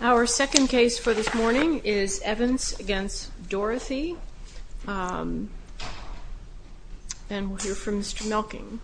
Our second case for this morning is Evans v. Dorethy, and we'll hear from Mr. Melking.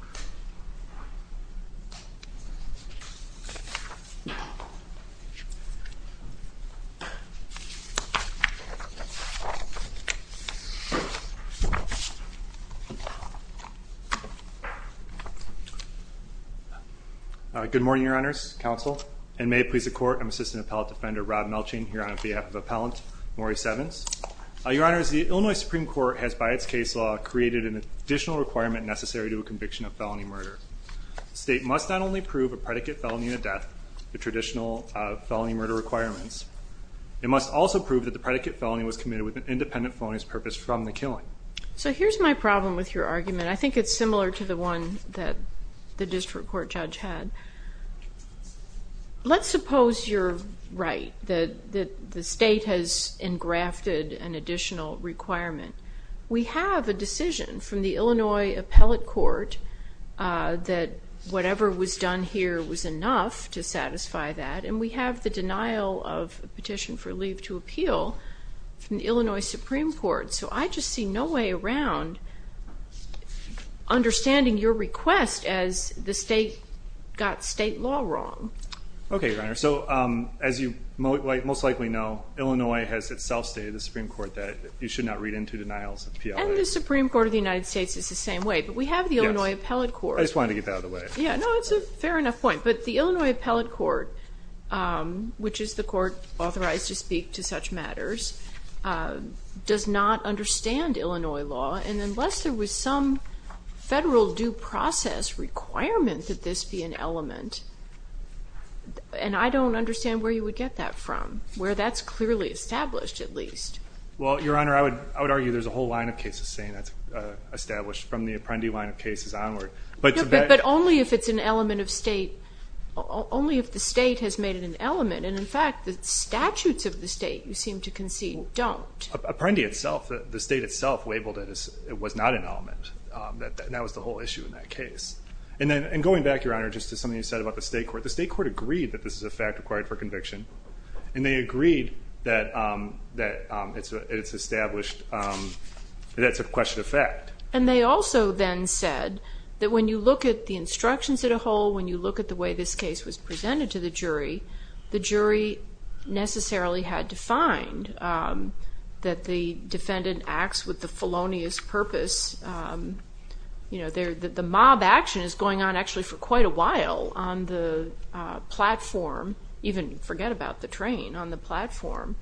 Good morning, Your Honors, Counsel, and may it please the Court, I'm Assistant Appellate Defender Rob Melking, here on behalf of Appellant Maurice Evans. Your Honors, the Illinois Supreme Court has, by its case law, created an additional requirement necessary to a conviction of felony murder. The State must not only prove a predicate felony to death, the traditional felony murder requirements, it must also prove that the predicate felony was committed with an independent felonious purpose from the killing. So here's my problem with your argument. I think it's similar to the one that the District Court Judge had. Let's suppose you're right, that the State has engrafted an additional requirement. We have a decision from the Illinois Appellate Court that whatever was done here was enough to satisfy that, and we have the denial of a petition for leave to appeal from the Illinois Supreme Court. So I just see no way around understanding your request as the State got State law wrong. Okay, Your Honor, so as you most likely know, Illinois has itself stated in the Supreme And the Supreme Court of the United States is the same way, but we have the Illinois Appellate Court. I just wanted to get that out of the way. Yeah, no, it's a fair enough point, but the Illinois Appellate Court, which is the court authorized to speak to such matters, does not understand Illinois law, and unless there was some federal due process requirement that this be an element, and I don't understand where you would get that from, where that's clearly established at least. Well, Your Honor, I would argue there's a whole line of cases saying that's established from the Apprendi line of cases onward. But only if it's an element of State. Only if the State has made it an element, and in fact, the statutes of the State you seem to concede don't. Apprendi itself, the State itself labeled it as it was not an element, and that was the whole issue in that case. And going back, Your Honor, just to something you said about the State court, the State required for conviction, and they agreed that it's established, that it's a question of fact. And they also then said that when you look at the instructions as a whole, when you look at the way this case was presented to the jury, the jury necessarily had to find that the defendant acts with the felonious purpose, you know, the mob action is going on actually for quite a while on the platform, even forget about the train, on the platform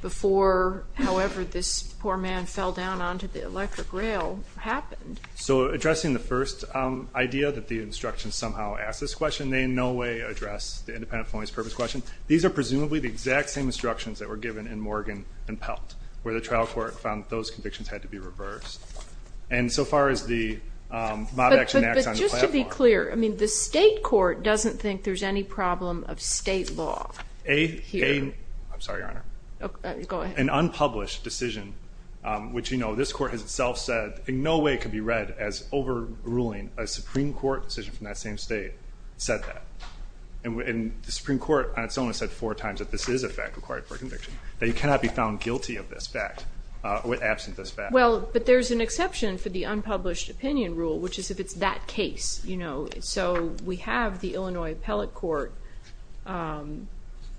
before, however, this poor man fell down onto the electric rail happened. So addressing the first idea that the instructions somehow ask this question, they in no way address the independent felonious purpose question. These are presumably the exact same instructions that were given in Morgan and Pelt, where the trial court found those convictions had to be reversed. And so far as the mob action acts on the platform. But just to be clear, I mean, the State court doesn't think there's any problem of State law here. I'm sorry, Your Honor. Go ahead. An unpublished decision, which, you know, this court has itself said in no way could be read as overruling a Supreme Court decision from that same State said that. And the Supreme Court on its own has said four times that this is a fact required for conviction, that you cannot be found guilty of this fact, absent this fact. Well, but there's an exception for the unpublished opinion rule, which is if it's that case, you know. So we have the Illinois appellate court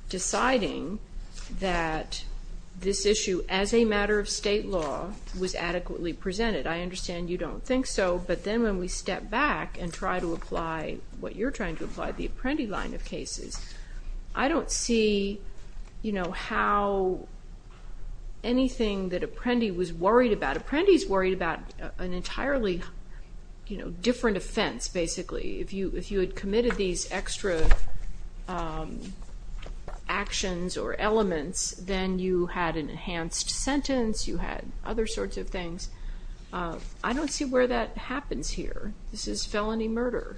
deciding that this issue as a matter of State law was adequately presented. I understand you don't think so, but then when we step back and try to apply what you're trying to apply, the Apprendi line of cases, I don't see, you know, how anything that Apprendi was worried about, Apprendi's worried about an entirely, you know, different offense, basically. If you had committed these extra actions or elements, then you had an enhanced sentence, you had other sorts of things. I don't see where that happens here. This is felony murder.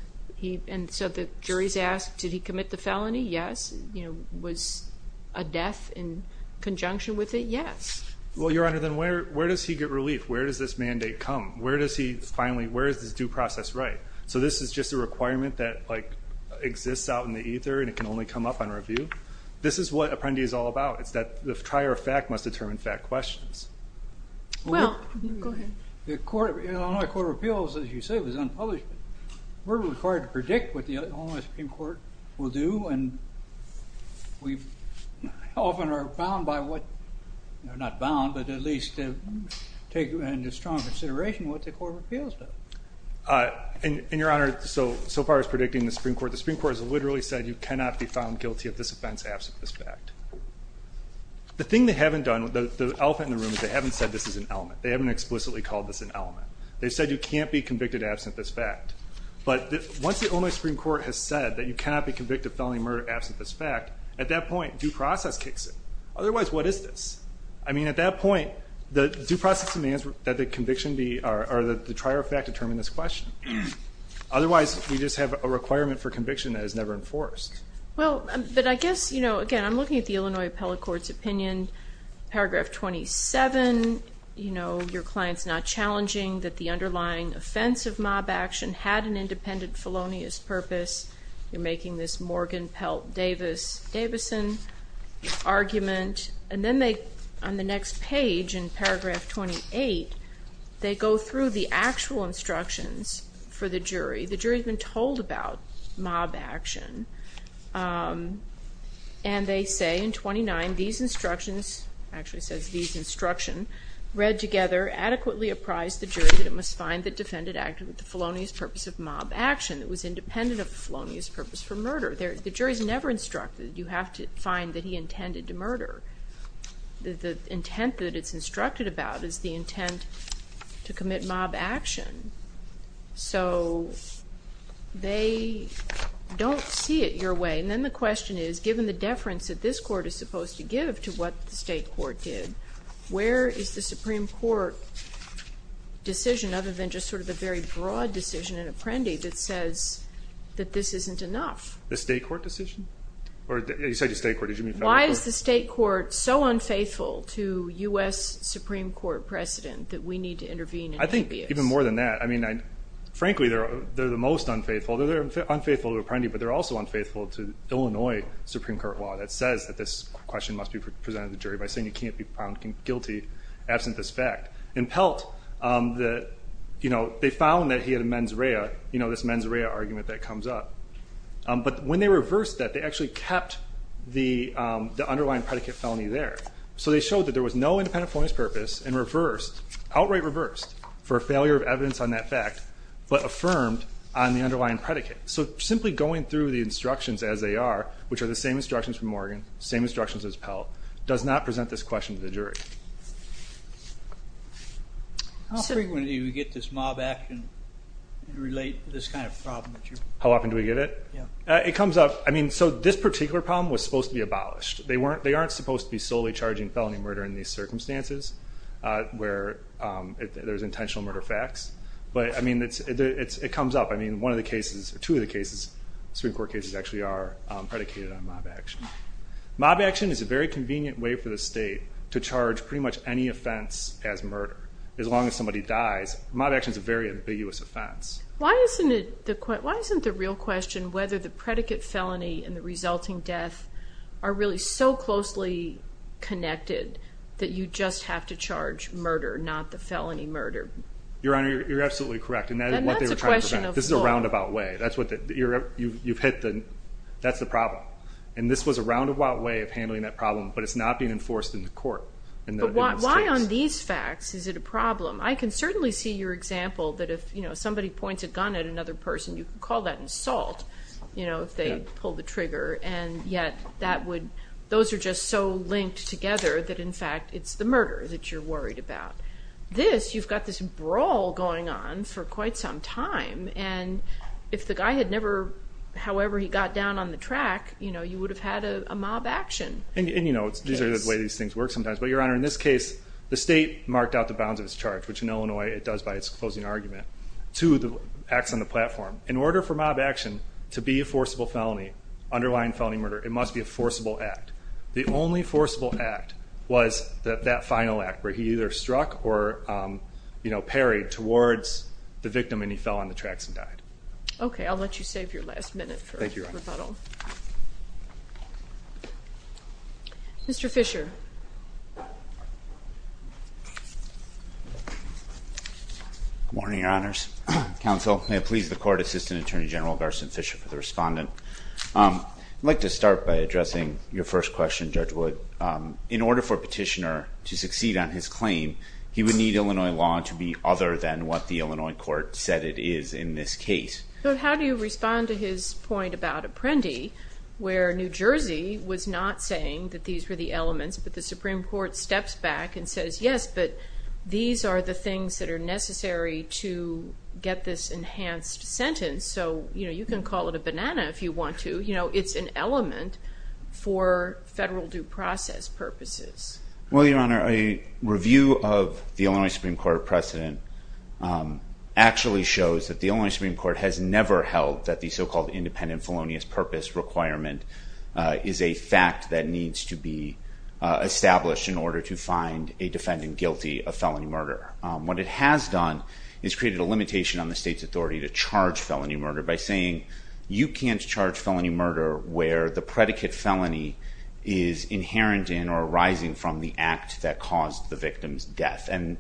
And so the jury's asked, did he commit the felony? Yes. You know, was a death in conjunction with it? Yes. Well, Your Honor, then where does he get relief? Where does this mandate come? Where does he finally, where is this due process right? So this is just a requirement that like exists out in the ether and it can only come up on review. This is what Apprendi is all about. It's that the trier of fact must determine fact questions. Well, go ahead. The Illinois court of appeals, as you say, was unpublished, but we're required to predict what the Illinois Supreme Court will do. And we often are bound by what, not bound, but at least take into strong consideration what the court of appeals does. And Your Honor, so far as predicting the Supreme Court, the Supreme Court has literally said you cannot be found guilty of this offense absent this fact. The thing they haven't done, the elephant in the room is they haven't said this is an element. They haven't explicitly called this an element. They've said you can't be convicted absent this fact. But once the Illinois Supreme Court has said that you cannot be convicted of felony murder absent this fact, at that point due process kicks in. Otherwise what is this? I mean at that point, the due process demands that the conviction be, or the trier of fact determine this question. Otherwise, we just have a requirement for conviction that is never enforced. Well, but I guess, you know, again, I'm looking at the Illinois appellate court's opinion, paragraph 27, you know, your client's not challenging that the underlying offense of had an independent felonious purpose, you're making this Morgan Pelt Davison argument. And then they, on the next page in paragraph 28, they go through the actual instructions for the jury. The jury's been told about mob action. And they say in 29, these instructions, actually says these instruction, read together, adequately apprise the jury that it must find that defendant acted with the felonious purpose of mob action, that was independent of the felonious purpose for murder. The jury's never instructed that you have to find that he intended to murder. The intent that it's instructed about is the intent to commit mob action. So they don't see it your way. And then the question is, given the deference that this court is supposed to give to what the state court did, where is the Supreme Court decision, other than just sort of the very broad decision in Apprendi that says that this isn't enough? The state court decision? You said the state court, did you mean federal court? Why is the state court so unfaithful to U.S. Supreme Court precedent that we need to intervene in habeas? I think even more than that. I mean, frankly, they're the most unfaithful. They're unfaithful to Apprendi, but they're also unfaithful to Illinois Supreme Court law that says that this question must be presented to the jury by saying you can't be found guilty absent this fact. In Pelt, they found that he had a mens rea, this mens rea argument that comes up. But when they reversed that, they actually kept the underlying predicate felony there. So they showed that there was no independent felonious purpose and reversed, outright reversed, for failure of evidence on that fact, but affirmed on the underlying predicate. So simply going through the instructions as they are, which are the same instructions from Morgan, same instructions as Pelt, does not present this question to the jury. How frequently do you get this mob action to relate to this kind of problem? How often do we get it? Yeah. It comes up, I mean, so this particular problem was supposed to be abolished. They weren't, they aren't supposed to be solely charging felony murder in these circumstances where there's intentional murder facts, but I mean, it comes up. I mean, one of the cases or two of the cases, Supreme Court cases actually are predicated on mob action. Mob action is a very convenient way for the state to charge pretty much any offense as murder as long as somebody dies. Mob action is a very ambiguous offense. Why isn't it, why isn't the real question whether the predicate felony and the resulting death are really so closely connected that you just have to charge murder, not the felony murder? And that is what they were trying to prevent. This is a roundabout way. That's what the, you've hit the, that's the problem. And this was a roundabout way of handling that problem, but it's not being enforced in the court. But why on these facts is it a problem? I can certainly see your example that if, you know, somebody points a gun at another person, you can call that an assault, you know, if they pull the trigger and yet that would, those are just so linked together that in fact it's the murder that you're worried about. This, you've got this brawl going on for quite some time and if the guy had never, however he got down on the track, you know, you would have had a mob action. And you know, these are the way these things work sometimes, but Your Honor, in this case the state marked out the bounds of its charge, which in Illinois it does by its closing argument, to the acts on the platform. In order for mob action to be a forcible felony, underlying felony murder, it must be a forcible act. The only forcible act was that final act where he either struck or, you know, parried towards the victim and he fell on the tracks and died. Okay. I'll let you save your last minute for rebuttal. Mr. Fisher. Good morning, Your Honors, counsel, may it please the Court Assistant Attorney General Garson Fisher for the respondent. I'd like to start by addressing your first question, Judge Wood. In order for a petitioner to succeed on his claim, he would need Illinois law to be other than what the Illinois court said it is in this case. How do you respond to his point about Apprendi, where New Jersey was not saying that these were the elements, but the Supreme Court steps back and says, yes, but these are the things that are necessary to get this enhanced sentence. So, you know, you can call it a banana if you want to, you know, it's an element for federal due process purposes. Well, Your Honor, a review of the Illinois Supreme Court precedent actually shows that the Illinois Supreme Court has never held that the so-called independent felonious purpose requirement is a fact that needs to be established in order to find a defendant guilty of felony murder. What it has done is created a limitation on the state's authority to charge felony murder by saying, you can't charge felony murder where the predicate felony is inherent in or arising from the act that caused the victim's death, and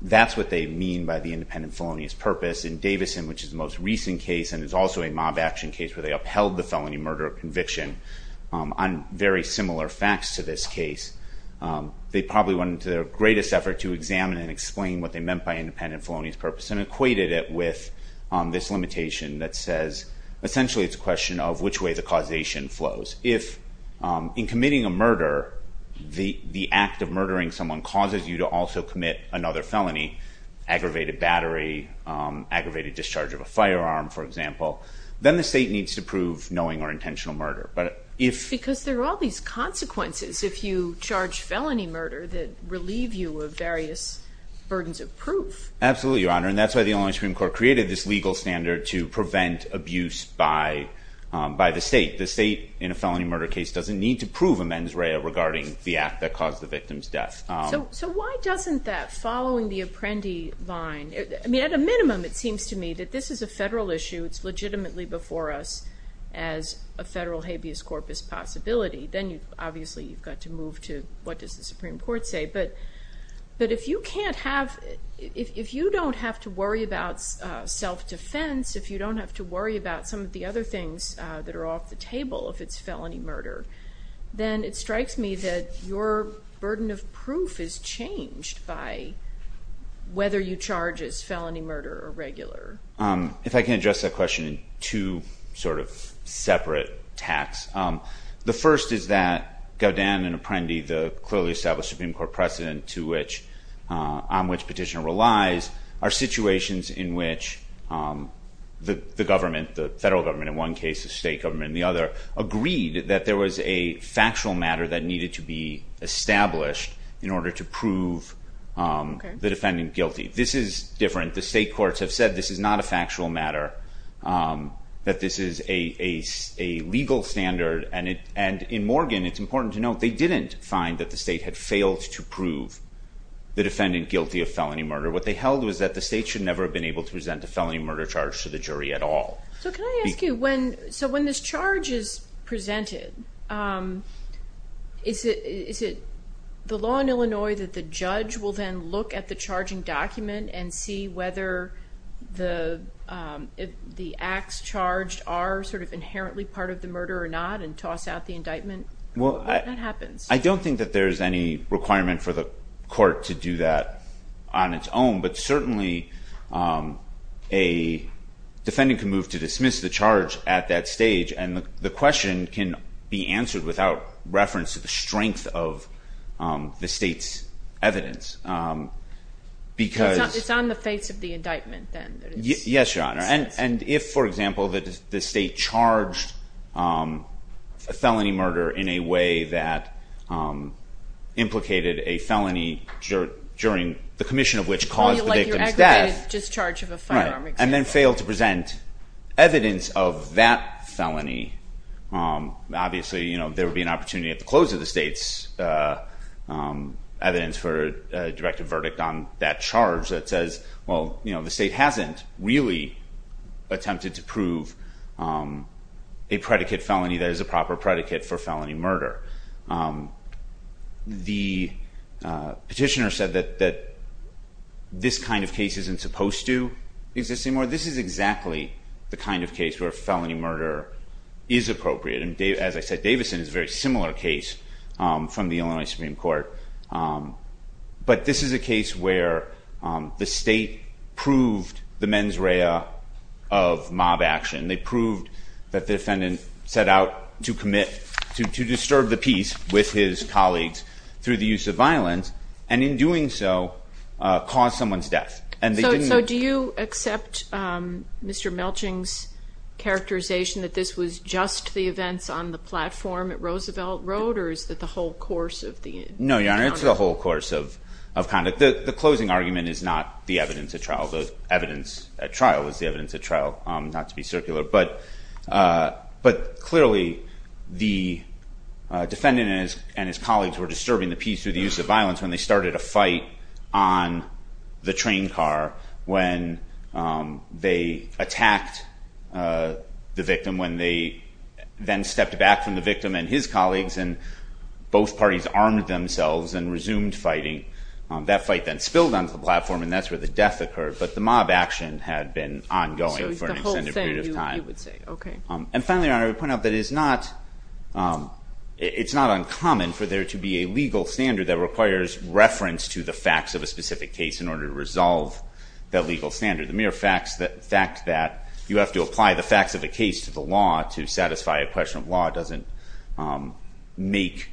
that's what they mean by the independent felonious purpose. In Davison, which is the most recent case, and it's also a mob action case where they upheld the felony murder conviction on very similar facts to this case, they probably went into their greatest effort to examine and explain what they meant by independent felonious purpose and equated it with this limitation that says, essentially it's a question of which way the causation flows. If in committing a murder, the act of murdering someone causes you to also commit another felony, aggravated battery, aggravated discharge of a firearm, for example, then the state needs to prove knowing or intentional murder, but if... And that would relieve you of various burdens of proof. Absolutely, Your Honor, and that's why the Illinois Supreme Court created this legal standard to prevent abuse by the state. The state, in a felony murder case, doesn't need to prove a mens rea regarding the act that caused the victim's death. So why doesn't that, following the Apprendi vine, I mean, at a minimum, it seems to me that this is a federal issue. It's legitimately before us as a federal habeas corpus possibility. Then obviously you've got to move to what does the Supreme Court say, but if you don't have to worry about self-defense, if you don't have to worry about some of the other things that are off the table, if it's felony murder, then it strikes me that your burden of proof is changed by whether you charge as felony murder or regular. If I can address that question in two sort of separate tacks. The first is that Gaudin and Apprendi, the clearly established Supreme Court precedent to which, on which petitioner relies, are situations in which the government, the federal government in one case, the state government in the other, agreed that there was a factual matter that needed to be established in order to prove the defendant guilty. This is different. The state courts have said this is not a factual matter, that this is a legal standard. In Morgan, it's important to note, they didn't find that the state had failed to prove the defendant guilty of felony murder. What they held was that the state should never have been able to present a felony murder charge to the jury at all. Can I ask you, when this charge is presented, is it the law in Illinois that the judge will then look at the charging document and see whether the acts charged are sort of inherently part of the murder or not and toss out the indictment? What if that happens? I don't think that there's any requirement for the court to do that on its own, but certainly a defendant can move to dismiss the charge at that stage, and the question can be answered without reference to the strength of the state's evidence. It's on the face of the indictment, then? Yes, Your Honor. If, for example, the state charged a felony murder in a way that implicated a felony during the commission of which caused the victim's death, and then failed to present evidence of that felony, obviously there would be an opportunity at the close of the state's evidence for a directive verdict on that charge that says, well, the state hasn't really attempted to prove a predicate felony that is a proper predicate for felony murder. The petitioner said that this kind of case isn't supposed to exist anymore. This is exactly the kind of case where a felony murder is appropriate. As I said, Davison is a very similar case from the Illinois Supreme Court, but this is a case where the state proved the mens rea of mob action. They proved that the defendant set out to commit, to disturb the peace with his colleagues through the use of violence, and in doing so caused someone's death. Do you accept Mr. Melching's characterization that this was just the events on the platform at Roosevelt Road, or is that the whole course of the indictment? No, Your Honor, it's the whole course of conduct. The closing argument is not the evidence at trial, though evidence at trial is the evidence at trial, not to be circular. But clearly the defendant and his colleagues were disturbing the peace with the use of when they attacked the victim, when they then stepped back from the victim and his colleagues, and both parties armed themselves and resumed fighting. That fight then spilled onto the platform, and that's where the death occurred. But the mob action had been ongoing for an extended period of time. And finally, Your Honor, I would point out that it's not uncommon for there to be a legal standard that requires reference to the facts of a specific case in order to resolve that legal standard. The mere fact that you have to apply the facts of a case to the law to satisfy a question of law doesn't make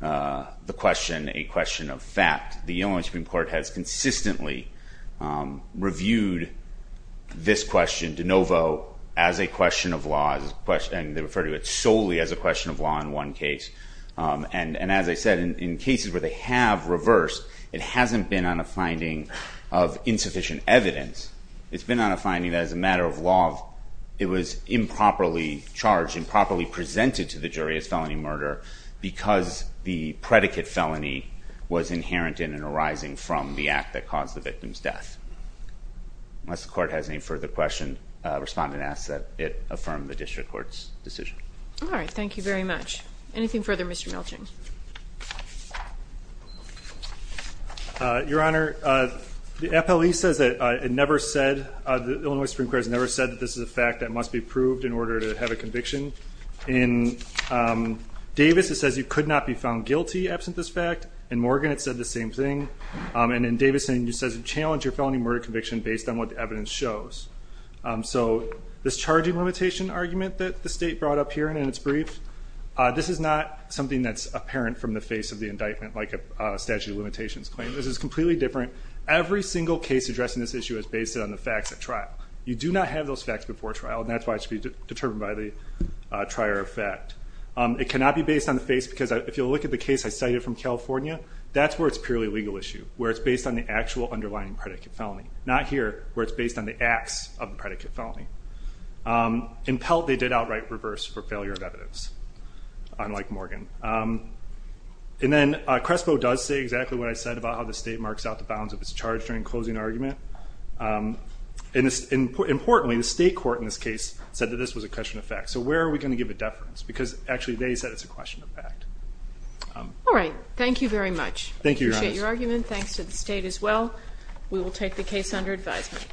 the question a question of fact. The Illinois Supreme Court has consistently reviewed this question de novo as a question of law, and they refer to it solely as a question of law in one case. And as I said, in cases where they have reversed, it hasn't been on a finding of insufficient evidence. It's been on a finding that as a matter of law, it was improperly charged, improperly presented to the jury as felony murder because the predicate felony was inherent in and arising from the act that caused the victim's death. Unless the Court has any further questions, respondent asks that it affirm the District Court's decision. All right. Thank you very much. Anything further? Mr. Melching? Your Honor, the FLE says that it never said, the Illinois Supreme Court has never said that this is a fact that must be proved in order to have a conviction. In Davis, it says you could not be found guilty absent this fact. In Morgan, it said the same thing. And in Davidson, it says challenge your felony murder conviction based on what the evidence shows. So this charging limitation argument that the State brought up here in its brief, this is not something that's apparent from the face of the indictment like a statute of limitations claim. This is completely different. Every single case addressing this issue is based on the facts at trial. You do not have those facts before trial, and that's why it should be determined by the trier of fact. It cannot be based on the face because if you'll look at the case I cited from California, that's where it's a purely legal issue, where it's based on the actual underlying predicate felony. Not here, where it's based on the acts of the predicate felony. In Pelt, they did outright reverse for failure of evidence, unlike Morgan. And then Crespo does say exactly what I said about how the State marks out the bounds of its charge during closing argument. Importantly, the State court in this case said that this was a question of fact. So where are we going to give a deference? Because actually, they said it's a question of fact. All right. Thank you very much. Thank you, Your Honor. I appreciate your argument. Thanks to the State as well. We will take the case under advisement.